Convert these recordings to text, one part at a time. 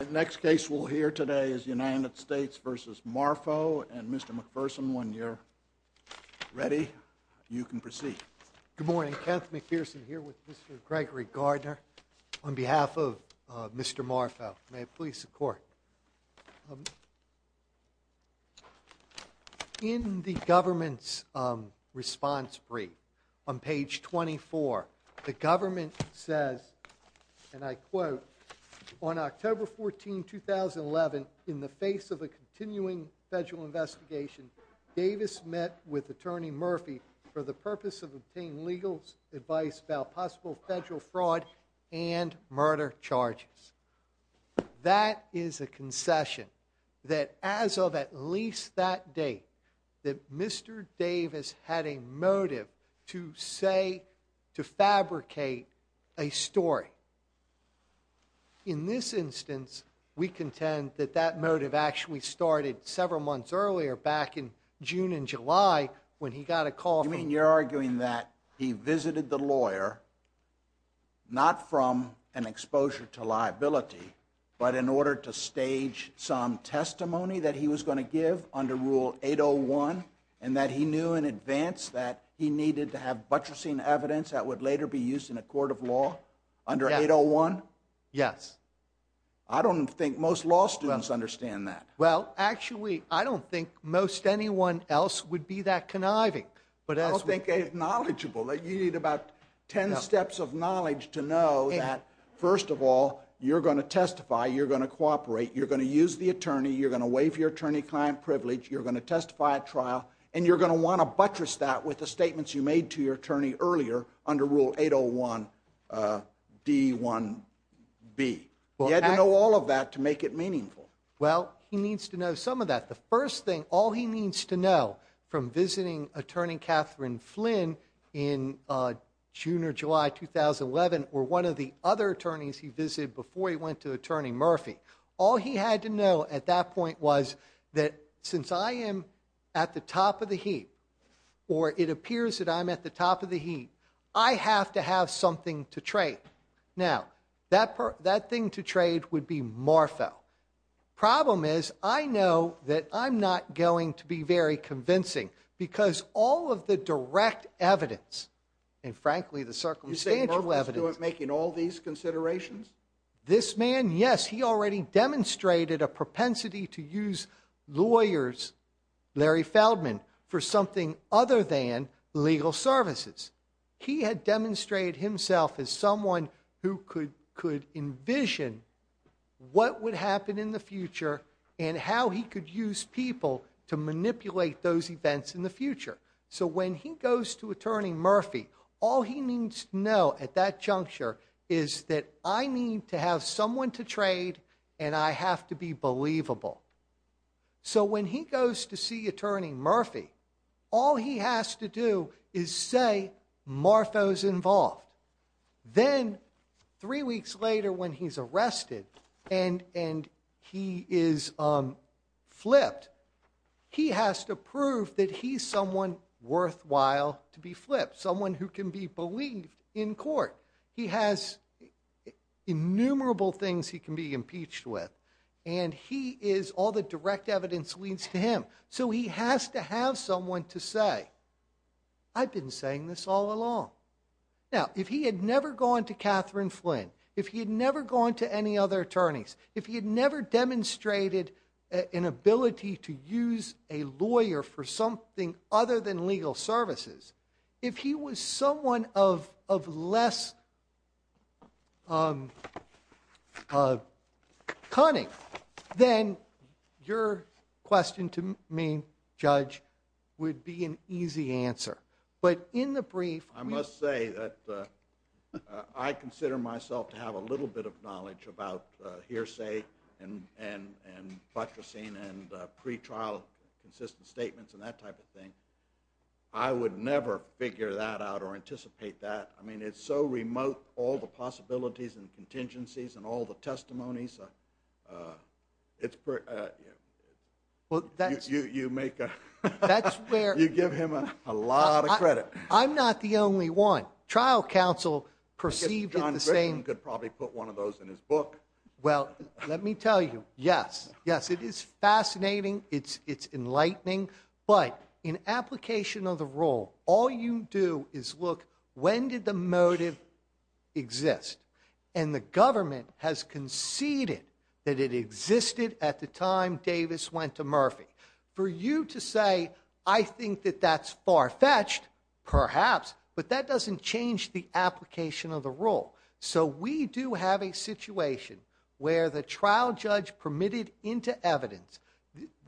The next case we'll hear today is United States v. Marfo and Mr. McPherson, when you're ready, you can proceed. Good morning, Kenneth McPherson here with Mr. Gregory Gardner. On behalf of Mr. Marfo, may it please the Court. In the government's response brief on page 24, the government says, and I quote, On October 14, 2011, in the face of a continuing federal investigation, Davis met with Attorney Murphy for the purpose of obtaining legal advice about possible federal fraud and murder charges. That is a concession that as of at least that date, that Mr. Davis had a motive to say, to fabricate a story. In this instance, we contend that that motive actually started several months earlier, back in June and July, when he got a call from You're arguing that he visited the lawyer, not from an exposure to liability, but in order to stage some testimony that he was going to give under Rule 801, and that he knew in advance that he needed to have buttressing evidence that would later be used in a court of law under 801? Yes. I don't think most law students understand that. Well, actually, I don't think most anyone else would be that conniving. I don't think they're knowledgeable. You need about ten steps of knowledge to know that, first of all, you're going to testify, you're going to cooperate, you're going to use the attorney, you're going to waive your attorney-client privilege, you're going to testify at trial, and you're going to want to buttress that with the statements you made to your attorney earlier under Rule 801 D1B. You had to know all of that to make it meaningful. Well, he needs to know some of that. The first thing, all he needs to know from visiting attorney Catherine Flynn in June or July 2011, or one of the other attorneys he visited before he went to attorney Murphy, all he had to know at that point was that since I am at the top of the heap, or it appears that I'm at the top of the heap, I have to have something to trade. Now, that thing to trade would be MARFO. Problem is, I know that I'm not going to be very convincing, because all of the direct evidence, and frankly, the circumstantial evidence- You say Murphy's doing, making all these considerations? This man, yes, he already demonstrated a propensity to use lawyers, Larry Feldman, for something other than legal services. He had demonstrated himself as someone who could envision what would happen in the future and how he could use people to manipulate those events in the future. So when he goes to attorney Murphy, all he needs to know at that juncture is that I need to have someone to trade, and I have to be believable. So when he goes to see attorney Murphy, all he has to do is say MARFO's involved. Then, three weeks later when he's arrested and he is flipped, he has to prove that he's someone worthwhile to be flipped, someone who can be believed in court. He has innumerable things he can be impeached with, and he is- all the direct evidence leads to him. So he has to have someone to say, I've been saying this all along. Now, if he had never gone to Catherine Flynn, if he had never gone to any other attorneys, if he had never demonstrated an ability to use a lawyer for something other than legal services, if he was someone of less cunning, then your question to me, Judge, would be an easy answer. But in the brief- I must say that I consider myself to have a little bit of knowledge about hearsay and buttressing and pretrial consistent statements and that type of thing. I would never figure that out or anticipate that. I mean, it's so remote, all the possibilities and contingencies and all the testimonies. Well, that's- You make a- That's where- You give him a lot of credit. I'm not the only one. Trial counsel perceived it the same- John Griffin could probably put one of those in his book. Well, let me tell you, yes. Yes, it is fascinating. It's enlightening. But in application of the rule, all you do is look, when did the motive exist? And the government has conceded that it existed at the time Davis went to Murphy. For you to say, I think that that's far-fetched, perhaps, but that doesn't change the application of the rule. So we do have a situation where the trial judge permitted into evidence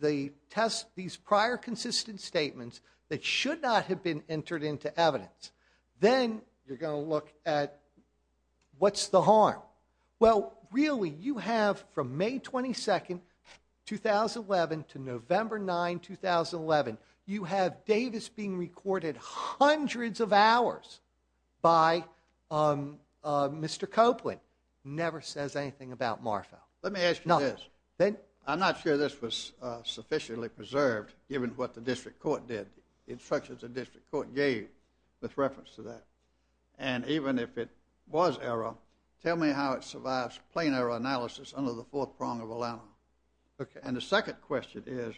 these prior consistent statements that should not have been entered into evidence. Then you're going to look at, what's the harm? Well, really, you have from May 22, 2011 to November 9, 2011, you have Davis being recorded hundreds of hours by Mr. Copeland. Never says anything about Marfell. Let me ask you this. I'm not sure this was sufficiently preserved, given what the district court did, instructions the district court gave with reference to that. And even if it was error, tell me how it survives plain error analysis under the fourth prong of Allana. And the second question is,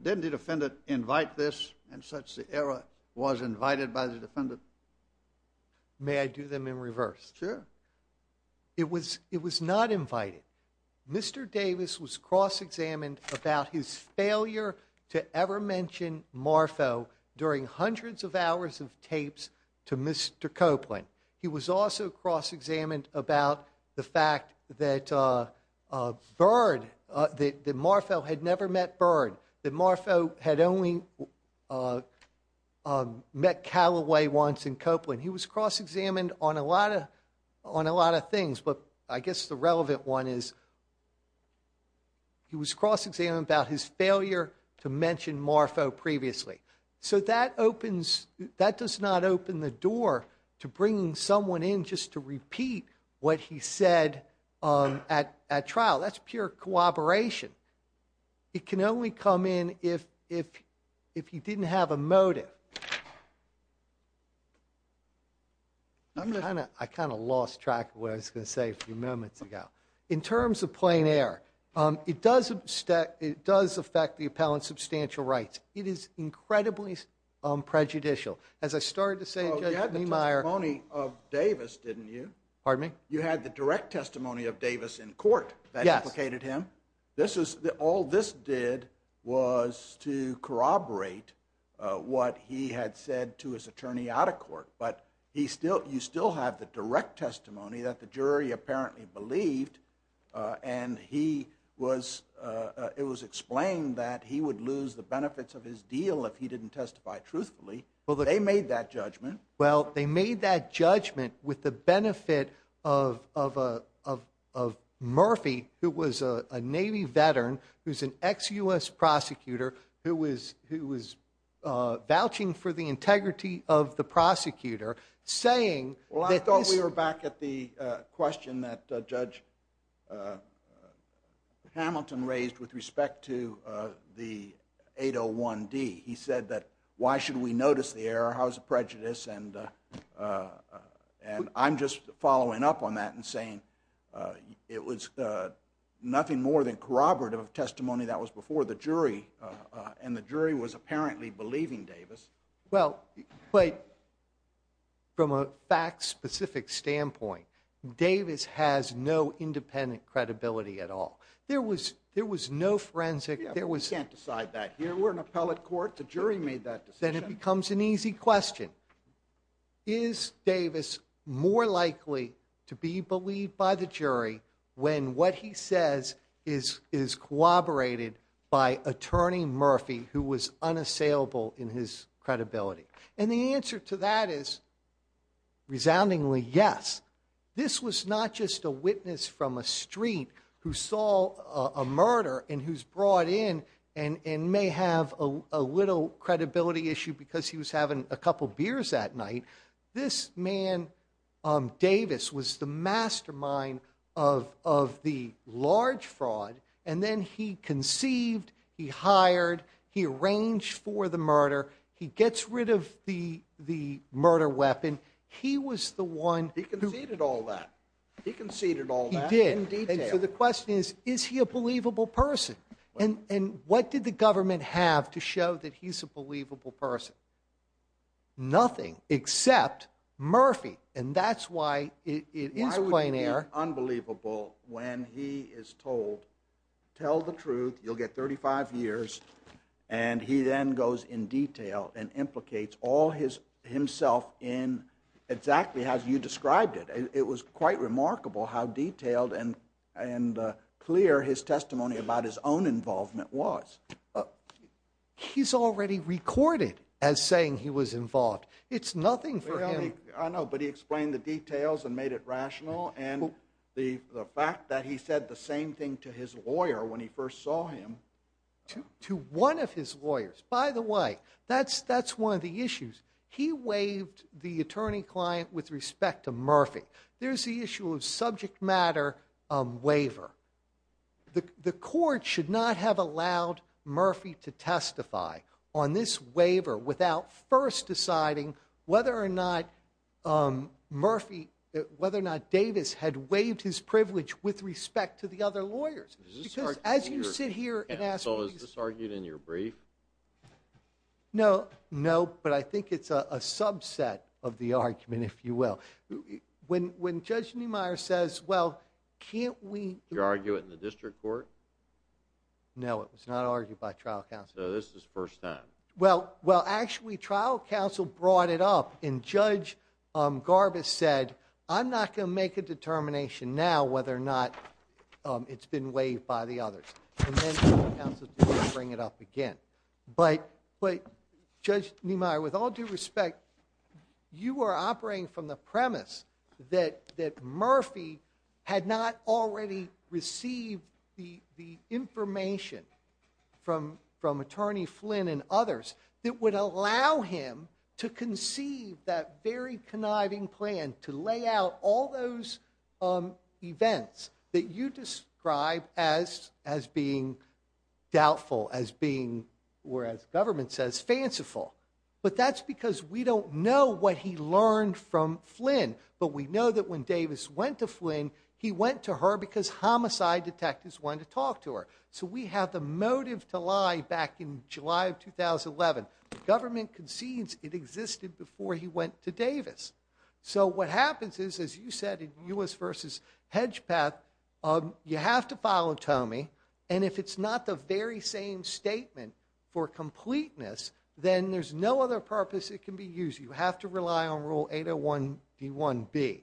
didn't the defendant invite this, and such the error was invited by the defendant? May I do them in reverse? Sure. It was not invited. Mr. Davis was cross-examined about his failure to ever mention Marfell during hundreds of hours of tapes to Mr. Copeland. He was also cross-examined about the fact that Bird, that Marfell had never met Bird, that Marfell had only met Callaway once in Copeland. He was cross-examined on a lot of things, but I guess the relevant one is, he was cross-examined about his failure to mention Marfell previously. So that opens, that does not open the door to bringing someone in just to repeat what he said at trial. That's pure cooperation. It can only come in if he didn't have a motive. I kind of lost track of what I was going to say a few moments ago. In terms of plain air, it does affect the appellant's substantial rights. It is incredibly prejudicial. As I started to say, Judge Niemeyer... Well, you had the testimony of Davis, didn't you? Pardon me? You had the direct testimony of Davis in court that implicated him. All this did was to corroborate what he had said to his attorney out of court. But you still have the direct testimony that the jury apparently believed, and it was explained that he would lose the benefits of his deal if he didn't testify truthfully. They made that judgment. Well, they made that judgment with the benefit of Murphy, who was a Navy veteran, who's an ex-U.S. prosecutor, who was vouching for the integrity of the prosecutor, saying... Well, I thought we were back at the question that Judge Hamilton raised with respect to the 801D. He said that, why should we notice the error? How's the prejudice? And I'm just following up on that and saying, it was nothing more than corroborative of testimony that was before the jury, and the jury was apparently believing Davis. Well, but from a fact-specific standpoint, Davis has no independent credibility at all. There was no forensic... Yeah, but we can't decide that here. We're an appellate court. The jury made that decision. Then it becomes an easy question. Is Davis more likely to be believed by the jury when what he says is corroborated by Attorney Murphy, who was unassailable in his credibility? And the answer to that is, resoundingly, yes. This was not just a witness from a street who saw a murder and who's brought in and may have a little credibility issue because he was having a couple beers that night. This man, Davis, was the mastermind of the large fraud, and then he conceived, he hired, he arranged for the murder, he gets rid of the murder weapon. He was the one... He conceded all that. He conceded all that in detail. So the question is, is he a believable person? And what did the government have to show that he's a believable person? Nothing except Murphy, and that's why it is plein air. Why would it be unbelievable when he is told, tell the truth, you'll get 35 years, and he then goes in detail and implicates all himself in, exactly as you described it. It was quite remarkable how detailed and clear his testimony about his own involvement was. He's already recorded as saying he was involved. It's nothing for him. I know, but he explained the details and made it rational, and the fact that he said the same thing to his lawyer when he first saw him... To one of his lawyers. By the way, that's one of the issues. He waived the attorney-client with respect to Murphy. There's the issue of subject matter waiver. The court should not have allowed Murphy to testify on this waiver without first deciding whether or not Murphy... whether or not Davis had waived his privilege with respect to the other lawyers. Because as you sit here and ask... So is this argued in your brief? No, no, but I think it's a subset of the argument, if you will. When Judge Niemeyer says, well, can't we... You argue it in the district court? No, it was not argued by trial counsel. So this is the first time. Well, actually, trial counsel brought it up, and Judge Garbus said, I'm not going to make a determination now whether or not it's been waived by the others. And then trial counsel didn't bring it up again. But Judge Niemeyer, with all due respect, you are operating from the premise that Murphy had not already received the information from Attorney Flynn and others that would allow him to conceive that very conniving plan to lay out all those events that you describe as being doubtful, as being, or as government says, fanciful. But that's because we don't know what he learned from Flynn. But we know that when Davis went to Flynn, he went to her because homicide detectives wanted to talk to her. So we have the motive to lie back in July of 2011. The government concedes it existed before he went to Davis. So what happens is, as you said, in U.S. v. Hedgepeth, you have to follow Toomey. And if it's not the very same statement for completeness, then there's no other purpose it can be used. You have to rely on Rule 801 D1B.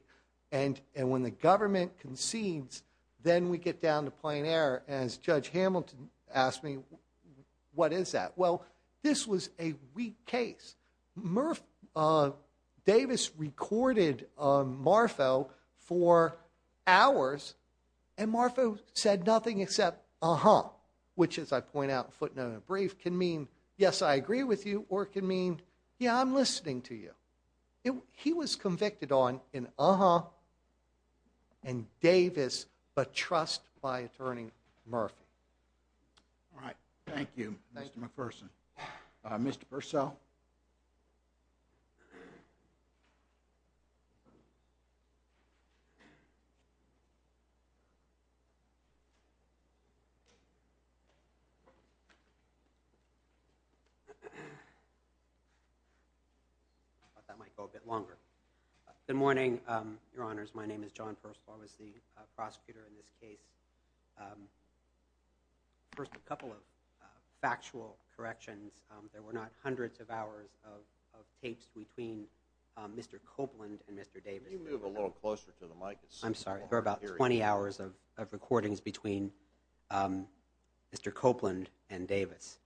And when the government concedes, then we get down to plain error, as Judge Hamilton asked me, what is that? Well, this was a weak case. Murph, Davis recorded Marfo for hours, and Marfo said nothing except, uh-huh. Which, as I point out footnote in a brief, can mean, yes, I agree with you, or it can mean, yeah, I'm listening to you. He was convicted on an uh-huh, and Davis, but trust my attorney, Murph. All right, thank you, Mr. McPherson. Mr. Purcell? I thought that might go a bit longer. Good morning, Your Honors. My name is John Purcell. I was the prosecutor in this case. First, a couple of factual corrections. There were not hundreds of hours of tapes between Mr. Copeland and Mr. Davis. Can you move a little closer to the mic? There were about 20 hours of tapes between Mr. Copeland and Mr. Davis. There were about 20 hours of recordings between Mr. Copeland and Davis.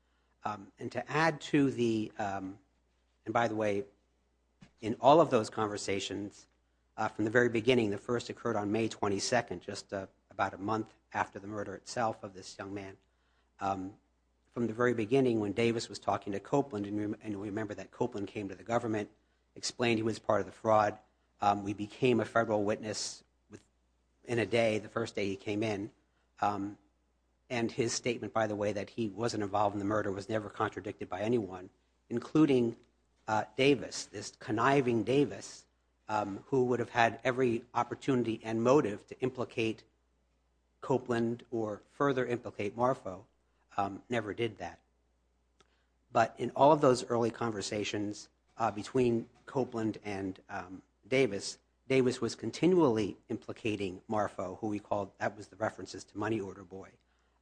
And to add to the, and by the way, in all of those conversations, from the very beginning, the first occurred on May 22nd, just about a month after the murder itself of this young man. From the very beginning, when Davis was talking to Copeland, and we remember that Copeland came to the government, explained he was part of the fraud, we became a federal witness in a day the first day he came in. And his statement, by the way, that he wasn't involved in the murder was never contradicted by anyone, including Davis, this conniving Davis, who would have had every opportunity and motive to implicate Copeland or further implicate MARFO, never did that. But in all of those early conversations between Copeland and Davis, Davis was continually implicating MARFO, who he called, that was the references to Money Order Boy.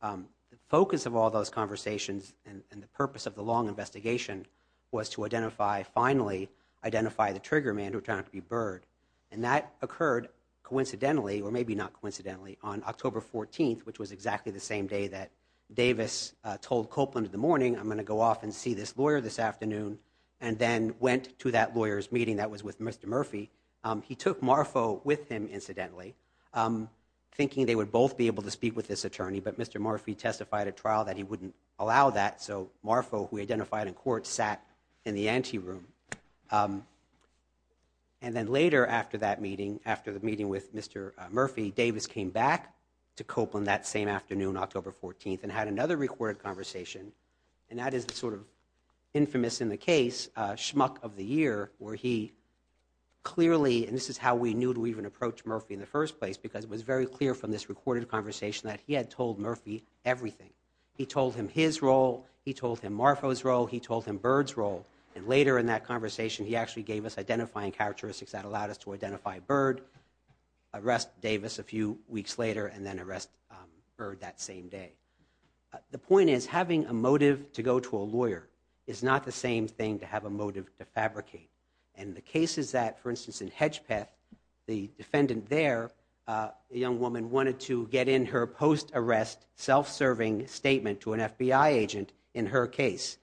The focus of all those conversations and the purpose of the long investigation was to identify, finally identify the trigger man who turned out to be Byrd. And that occurred coincidentally, or maybe not coincidentally, on October 14th, which was exactly the same day that Davis told Copeland in the morning, I'm gonna go off and see this lawyer this afternoon, and then went to that lawyer's meeting that was with Mr. Murphy. He took MARFO with him, incidentally. Thinking they would both be able to speak with this attorney, but Mr. Murphy testified at trial that he wouldn't allow that, so MARFO, who identified in court, sat in the ante room. And then later after that meeting, after the meeting with Mr. Murphy, Davis came back to Copeland that same afternoon, October 14th, and had another recorded conversation. And that is the sort of infamous in the case, schmuck of the year, where he clearly, and this is how we knew to even approach Murphy in the first place, because it was very clear from this recorded conversation that he had told Murphy everything. He told him his role, he told him MARFO's role, he told him Byrd's role. And later in that conversation, he actually gave us identifying characteristics that allowed us to identify Byrd, arrest Davis a few weeks later, and then arrest Byrd that same day. The point is, having a motive to go to a lawyer is not the same thing to have a motive to fabricate. And the case is that, for instance, in Hedgepeth, the defendant there, a young woman, wanted to get in her post-arrest, self-serving statement to an FBI agent in her case.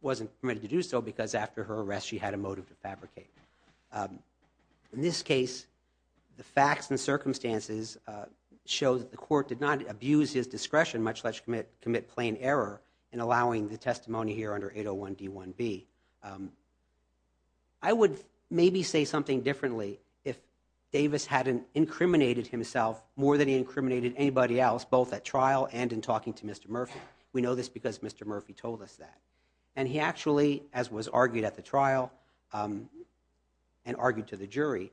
Wasn't permitted to do so, because after her arrest, she had a motive to fabricate. In this case, the facts and circumstances show that the court did not abuse his discretion, much less commit plain error in allowing the testimony here under 801 D1B. I would maybe say something differently if Davis hadn't incriminated himself more than he incriminated anybody else, both at trial and in talking to Mr. Murphy. We know this because Mr. Murphy told us that. And he actually, as was argued at the trial, and argued to the jury,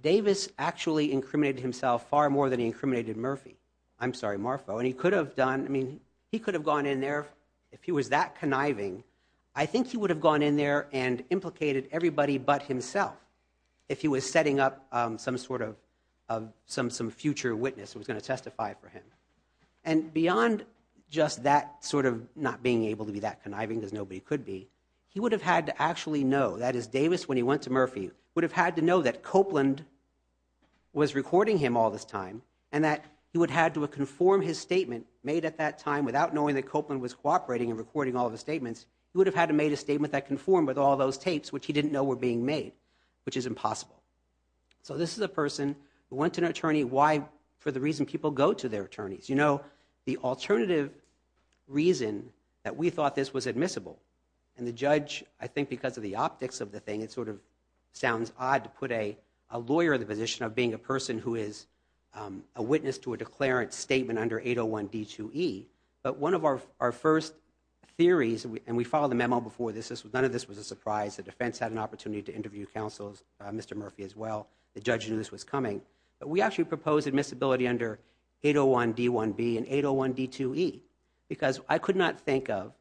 Davis actually incriminated himself far more than he incriminated Murphy. I'm sorry, MARFO. And he could have done, I mean, he could have gone in there, if he was that conniving, I think he would have gone in there and implicated everybody but himself, if he was setting up some sort of future witness who was gonna testify for him. And beyond just that sort of not being able to be that conniving, because nobody could be, he would have had to actually know, that is, Davis, when he went to Murphy, would have had to know that Copeland was recording him all this time, and that he would have had to conform his statement made at that time without knowing that Copeland was cooperating and recording all of the statements. He would have had to made a statement that conformed with all those tapes, which he didn't know were being made, which is impossible. So this is a person who went to an attorney, why, for the reason people go to their attorneys. The alternative reason that we thought this was admissible, and the judge, I think because of the optics of the thing, it sort of sounds odd to put a lawyer in the position of being a person who is a witness to a declarant statement under 801 D2E. But one of our first theories, and we followed the memo before this, none of this was a surprise, the defense had an opportunity to interview counsels, Mr. Murphy as well, the judge knew this was coming, but we actually proposed admissibility under 801 D1B and 801 D2E, because I could not think of,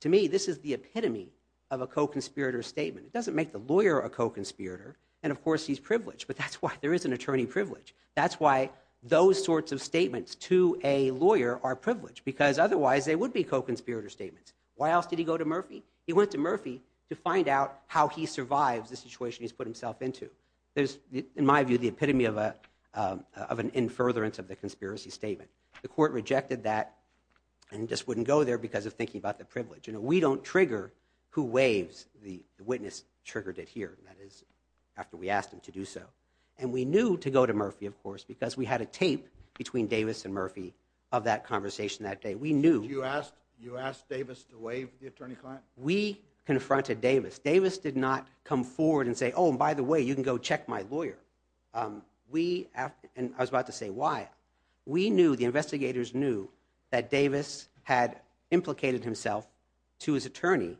to me, this is the epitome of a co-conspirator statement. It doesn't make the lawyer a co-conspirator, and of course he's privileged, but that's why there is an attorney privilege. That's why those sorts of statements to a lawyer are privileged, because otherwise they would be co-conspirator statements. Why else did he go to Murphy? He went to Murphy to find out how he survives the situation he's put himself into. There's, in my view, the epitome of an in-furtherance of the conspiracy statement. The court rejected that, and just wouldn't go there because of thinking about the privilege. We don't trigger who waives, the witness triggered it here, that is, after we asked him to do so. And we knew to go to Murphy, of course, because we had a tape between Davis and Murphy of that conversation that day. We knew. You asked Davis to waive the attorney client? We confronted Davis. Davis did not come forward and say, oh, and by the way, you can go check my lawyer. We, and I was about to say why, we knew, the investigators knew, that Davis had implicated himself to his attorney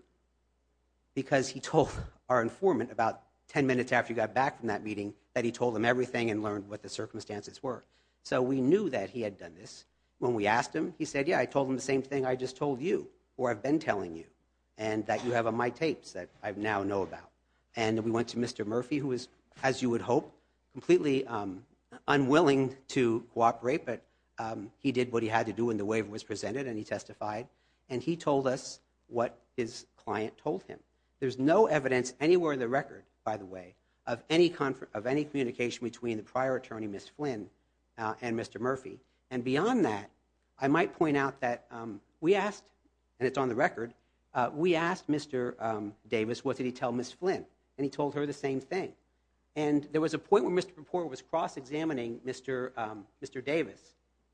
because he told our informant about 10 minutes after he got back from that meeting that he told them everything and learned what the circumstances were. So we knew that he had done this. When we asked him, he said, yeah, I told him the same thing I just told you, or I've been telling you, and that you have on my tapes that I now know about. And we went to Mr. Murphy, who was, as you would hope, completely unwilling to cooperate, but he did what he had to do when the waiver was presented, and he testified, and he told us what his client told him. There's no evidence anywhere in the record, by the way, of any communication between the prior attorney, Ms. Flynn, and Mr. Murphy. And beyond that, I might point out that we asked, and it's on the record, we asked Mr. Davis, what did he tell Ms. Flynn? And he told her the same thing. And there was a point when Mr. Papport was cross-examining Mr. Davis,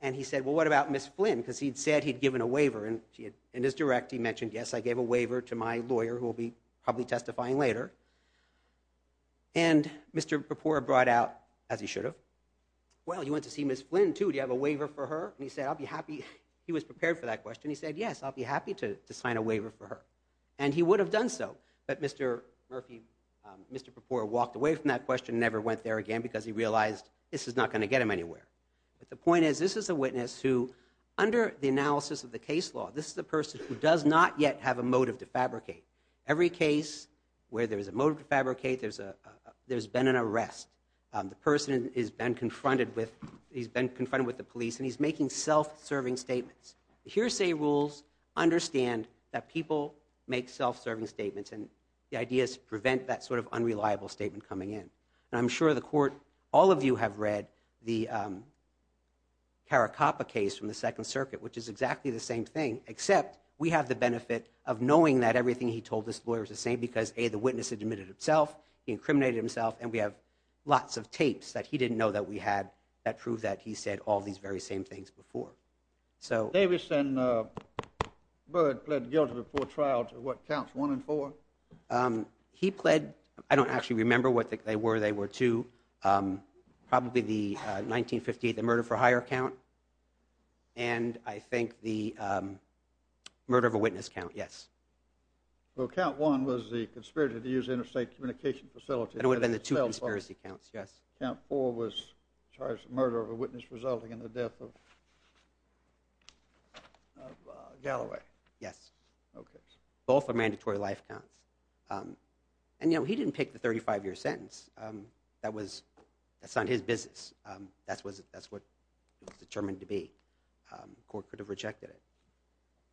and he said, well, what about Ms. Flynn? Because he'd said he'd given a waiver, and in his direct, he mentioned, yes, I gave a waiver to my lawyer, who will be probably testifying later. And Mr. Papport brought out, as he should have, well, you went to see Ms. Flynn, too, do you have a waiver for her? And he said, I'll be happy, he was prepared for that question. He said, yes, I'll be happy to sign a waiver for her. And he would have done so, but Mr. Murphy, Mr. Papport walked away from that question and never went there again because he realized this is not gonna get him anywhere. But the point is, this is a witness who, under the analysis of the case law, this is a person who does not yet have a motive to fabricate. Every case where there's a motive to fabricate, there's been an arrest. The person has been confronted with, he's been confronted with the police, and he's making self-serving statements. The hearsay rules understand that people make self-serving statements, and the idea is to prevent that sort of unreliable statement coming in. And I'm sure the court, all of you have read the Caracappa case from the Second Circuit, which is exactly the same thing, except we have the benefit of knowing that everything he told this lawyer is the same because A, the witness admitted himself, he incriminated himself, and we have lots of tapes that he didn't know that we had that prove that he said all these very same things before. Davis and Bird pled guilty before trial to what counts one and four? He pled, I don't actually remember what they were, they were two. Probably the 1958, the murder for hire count. And I think the murder of a witness count, yes. Well, count one was the conspiracy to use interstate communication facilities. And it would have been the two conspiracy counts, yes. Count four was charge of murder of a witness resulting in the death of Galloway. Yes. Both are mandatory life counts. And you know, he didn't pick the 35-year sentence. That was, that's not his business. That's what he was determined to be. Court could have rejected it.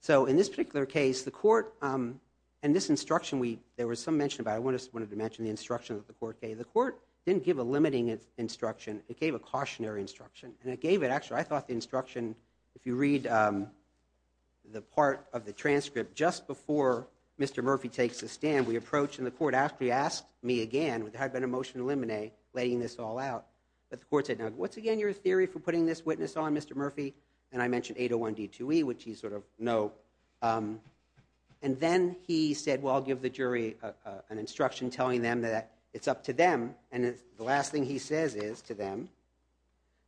So in this particular case, the court, and this instruction we, there was some mention about, I wanted to mention the instruction that the court gave. The court didn't give a limiting instruction. It gave a cautionary instruction. And it gave it, actually, I thought the instruction, if you read the part of the transcript, just before Mr. Murphy takes the stand, we approach and the court actually asked me again, which had been a motion to eliminate, laying this all out, but the court said, now, once again, you're a theory for putting this witness on, Mr. Murphy. And I mentioned 801 D2E, which you sort of know. And then he said, well, I'll give the jury an instruction telling them that it's up to them. And the last thing he says is to them,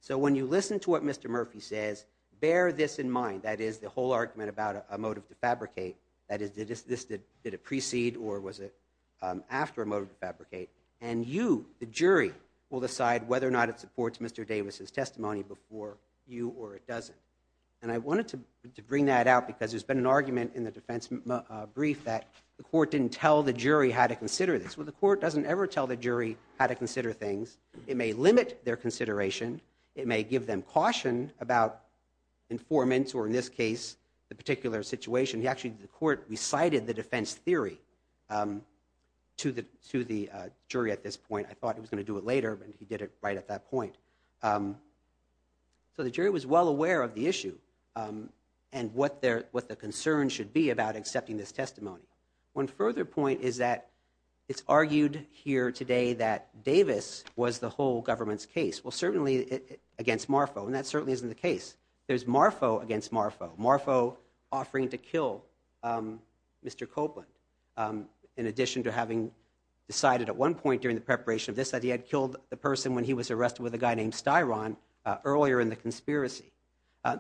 so when you listen to what Mr. Murphy says, bear this in mind, that is, the whole argument about a motive to fabricate, that is, did this, did it precede or was it after a motive to fabricate? And you, the jury, will decide whether or not it supports Mr. Davis's testimony before you or it doesn't. And I wanted to bring that out because there's been an argument in the defense brief that the court didn't tell the jury how to consider this. Well, the court doesn't ever tell the jury how to consider things. It may limit their consideration. It may give them caution about informants or, in this case, the particular situation. Actually, the court recited the defense theory to the jury at this point. I thought he was gonna do it later, but he did it right at that point. So the jury was well aware of the issue and what the concern should be about accepting this testimony. One further point is that it's argued here today that Davis was the whole government's case. Well, certainly against Marfoe, and that certainly isn't the case. There's Marfoe against Marfoe, Marfoe offering to kill Mr. Copeland in addition to having decided at one point during the preparation of this that he had killed the person when he was arrested with a guy named Styron, earlier in the conspiracy.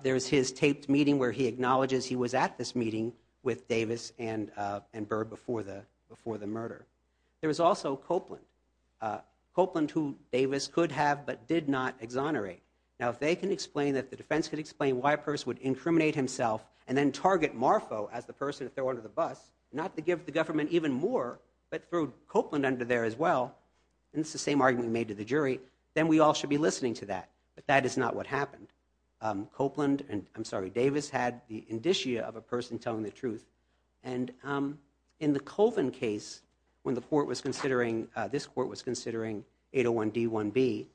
There's his taped meeting where he acknowledges he was at this meeting with Davis and Byrd before the murder. There was also Copeland, Copeland who Davis could have but did not exonerate. Now, if they can explain, if the defense could explain why a person would incriminate himself and then target Marfoe as the person to throw under the bus, not to give the government even more, but throw Copeland under there as well, and it's the same argument we made to the jury, then we all should be listening to that. But that is not what happened. Copeland, and I'm sorry, Davis had the indicia of a person telling the truth. And in the Colvin case, when the court was considering, this court was considering 801 D1B,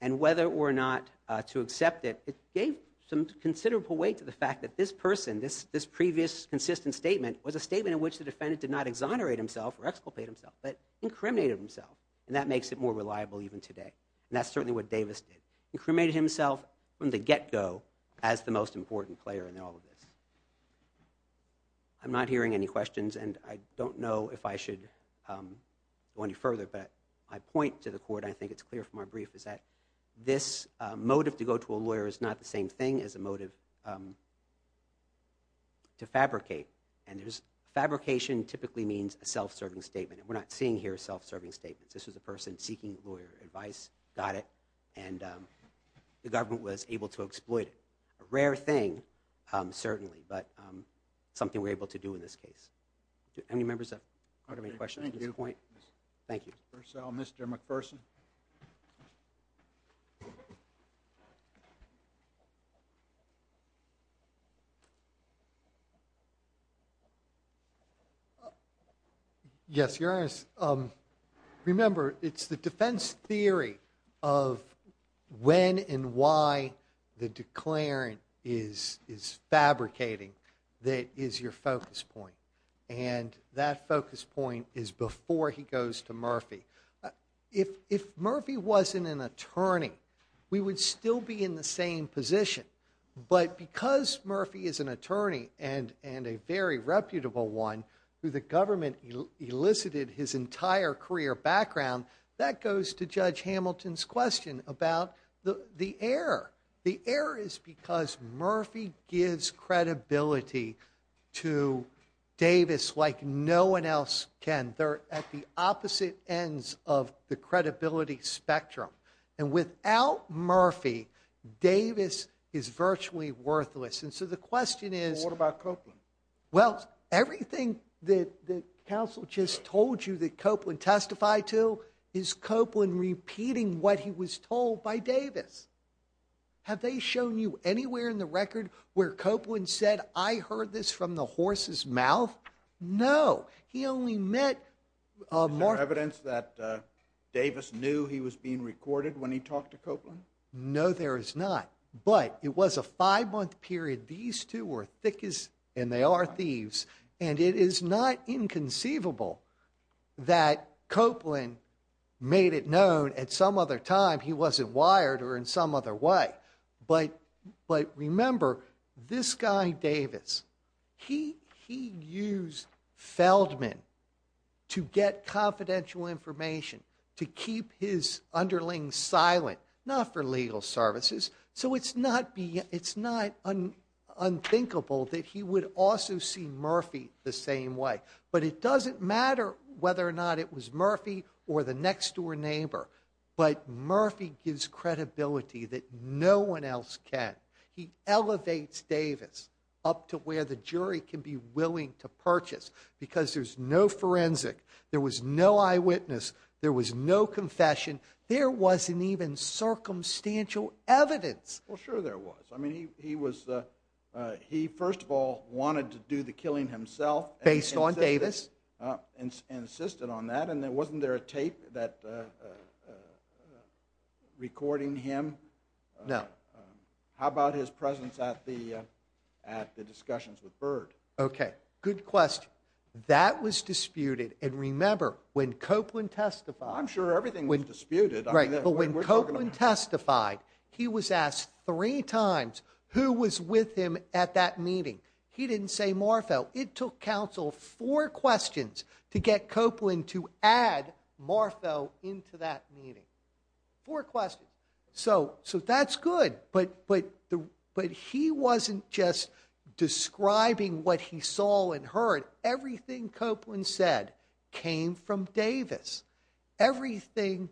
and whether or not to accept it, it gave some considerable weight to the fact that this person, this previous consistent statement was a statement in which the defendant did not exonerate himself or exculpate himself, but incriminated himself. And that makes it more reliable even today. And that's certainly what Davis did. Incriminated himself from the get-go as the most important player in all of this. I'm not hearing any questions, and I don't know if I should go any further, but I point to the court, I think it's clear from our brief, is that this motive to go to a lawyer is not the same thing as a motive to fabricate. And fabrication typically means a self-serving statement. And we're not seeing here self-serving statements. This was a person seeking lawyer advice, got it, and the government was able to exploit it. A rare thing, certainly, but something we're able to do in this case. Any members of the court have any questions at this point? Thank you. First of all, Mr. McPherson. Yes, Your Honor. Remember, it's the defense theory of when and why the declarant is fabricating that is your focus point. And that focus point is before he goes to Murphy. He's not going to be able to go to Murphy. If Murphy wasn't an attorney, we would still be in the same position. But because Murphy is an attorney and a very reputable one, who the government elicited his entire career background, that goes to Judge Hamilton's question about the error. The error is because Murphy gives credibility to Davis like no one else can. They're at the opposite ends of the credibility spectrum. And without Murphy, Davis is virtually worthless. And so the question is... What about Copeland? Well, everything that counsel just told you that Copeland testified to is Copeland repeating what he was told by Davis. Have they shown you anywhere in the record where Copeland said, I heard this from the horse's mouth? No, he only met... Is there evidence that Davis knew he was being recorded when he talked to Copeland? No, there is not. But it was a five-month period. These two were thick as... And they are thieves. And it is not inconceivable that Copeland made it known at some other time he wasn't wired or in some other way. But remember, this guy Davis, he used Feldman to get confidential information, to keep his underlings silent, not for legal services. So it's not unthinkable that he would also see Murphy the same way. But it doesn't matter whether or not it was Murphy or the next-door neighbor. But Murphy gives credibility that no one else can. He elevates Davis up to where the jury can be willing to purchase. Because there's no forensic, there was no eyewitness, there was no confession, there wasn't even circumstantial evidence. Well, sure there was. I mean, he was... He, first of all, wanted to do the killing himself... Based on Davis. ...and insisted on that. And wasn't there a tape that recording him? No. How about his presence at the discussions with Byrd? Okay, good question. That was disputed. And remember, when Copeland testified... I'm sure everything was disputed. Right, but when Copeland testified, he was asked three times who was with him at that meeting. He didn't say Marfell. It took counsel four questions to get Copeland to add Marfell into that meeting. Four questions. So, that's good. But he wasn't just describing what he saw and heard. Everything Copeland said came from Davis. Everything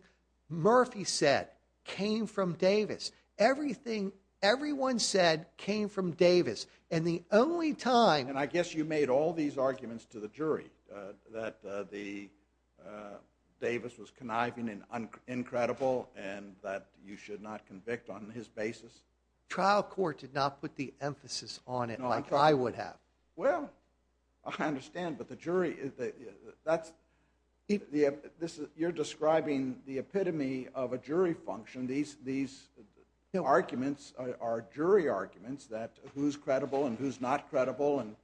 Murphy said came from Davis. Everything everyone said came from Davis. And the only time... And I guess you made all these arguments to the jury, that Davis was conniving and incredible, and that you should not convict on his basis. Trial court did not put the emphasis on it like I would have. Well, I understand. But the jury, that's... You're describing the epitome of a jury function. These arguments are jury arguments, that who's credible and who's not credible, and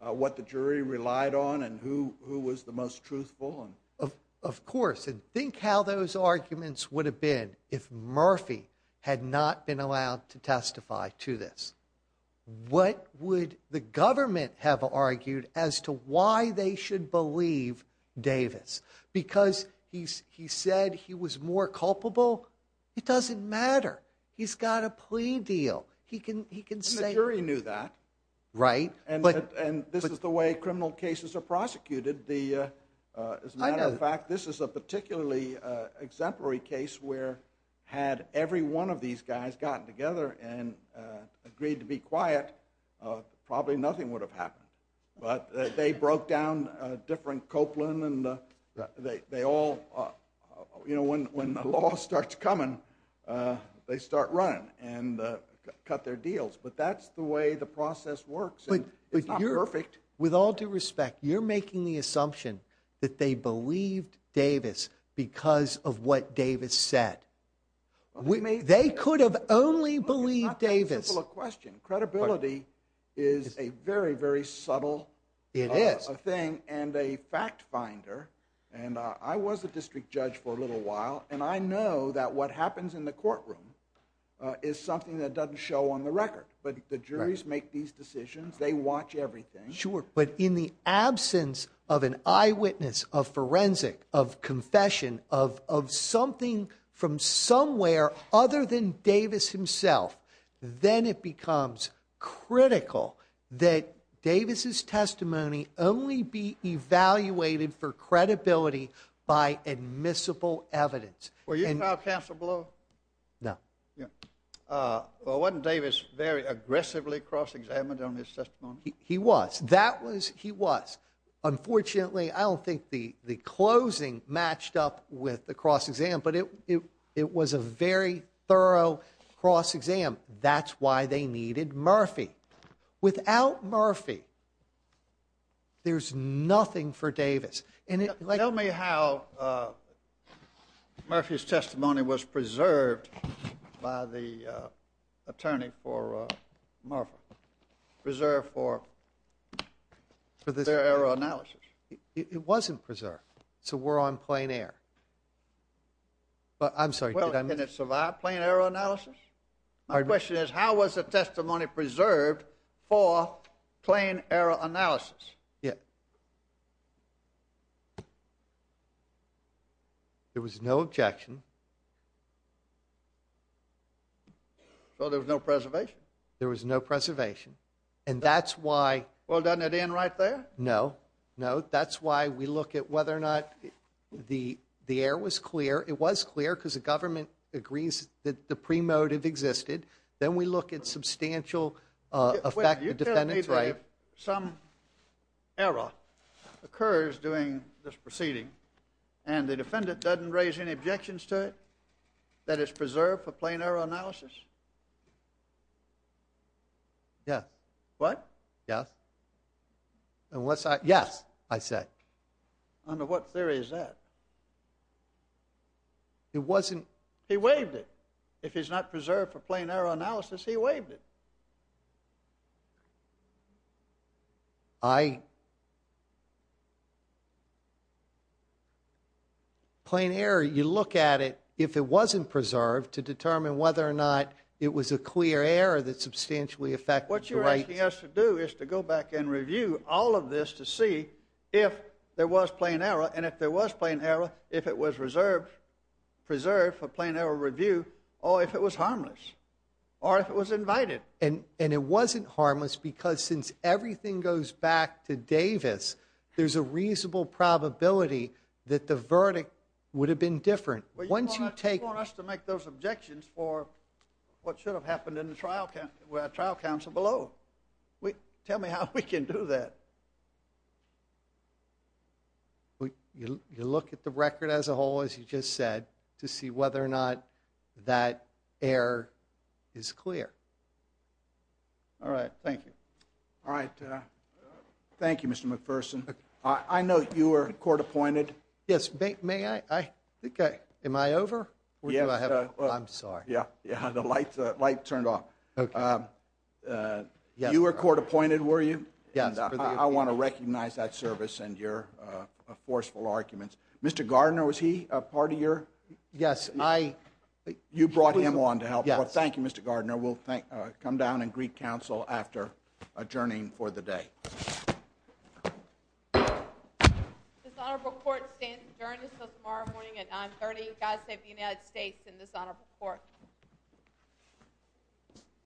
what the jury relied on, and who was the most truthful. Of course. And think how those arguments would have been if Murphy had not been allowed to testify to this. What would the government have argued as to why they should believe Davis? Because he said he was more culpable? It doesn't matter. He's got a plea deal. He can say... And the jury knew that. Right. And this is the way criminal cases are prosecuted. As a matter of fact, this is a particularly exemplary case where had every one of these guys gotten together and agreed to be quiet, probably nothing would have happened. But they broke down a different Copeland, and they all... You know, when the law starts coming, they start running and cut their deals. But that's the way the process works. It's not perfect. With all due respect, you're making the assumption that they believed Davis because of what Davis said. They could have only believed Davis. It's not that simple a question. Credibility is a very, very subtle... It is. ...thing and a fact-finder. And I was a district judge for a little while, and I know that what happens in the courtroom is something that doesn't show on the record. But the juries make these decisions. They watch everything. Sure, but in the absence of an eyewitness, of forensic, of confession, of something from somewhere other than Davis himself, then it becomes critical that Davis's testimony only be evaluated for credibility by admissible evidence. Were you trial counsel below? No. Well, wasn't Davis very aggressively cross-examined on his testimony? He was. That was... He was. Unfortunately, I don't think the closing matched up with the cross-exam, but it was a very thorough cross-exam. That's why they needed Murphy. Without Murphy, there's nothing for Davis. Tell me how Murphy's testimony was preserved by the attorney for Murphy, preserved for their error analysis? It wasn't preserved. So we're on plain error. But, I'm sorry, did I... Well, can it survive plain error analysis? My question is, how was the testimony preserved for plain error analysis? Yeah. There was no objection. So there was no preservation? There was no preservation. And that's why... Well, doesn't it end right there? No. No. That's why we look at whether or not the error was clear. It was clear because the government agrees that the pre-motive existed. Then we look at substantial effect the defendant's right. Some error occurs during this proceeding, and the defendant doesn't raise any objections to it that it's preserved for plain error analysis? Yes. What? Yes. And what's I... Yes, I said. Under what theory is that? It wasn't... He waived it. If it's not preserved for plain error analysis, he waived it. I... Plain error, you look at it, if it wasn't preserved, to determine whether or not it was a clear error that substantially affected the right... What you're asking us to do is to go back and review all of this to see if there was plain error. And if there was plain error, if it was reserved, preserved for plain error review, or if it was harmless, or if it was invited. And it wasn't harmless because since everything goes back to Davis, there's a reasonable probability that the verdict would have been different. Once you take... You want us to make those objections for what should have happened in the trial coun... where trial counsel below. We... Tell me how we can do that. We... You look at the record as a whole, as you just said, to see whether or not that error is clear. All right. Thank you. All right. Thank you, Mr. McPherson. I know you were court appointed. Yes, may I... Okay. Am I over? Yes. I'm sorry. Yeah. Yeah, the light turned off. Okay. You were court appointed, were you? Yes. I want to recognize that service and your forceful arguments. Mr. Gardner, was he a part of your... Yes, I... You brought him on to help. Yes. Thank you, Mr. Gardner. We'll come down and greet counsel after adjourning for the day. This honorable court stands adjourned until tomorrow morning at 9.30. God save the United States and this honorable court.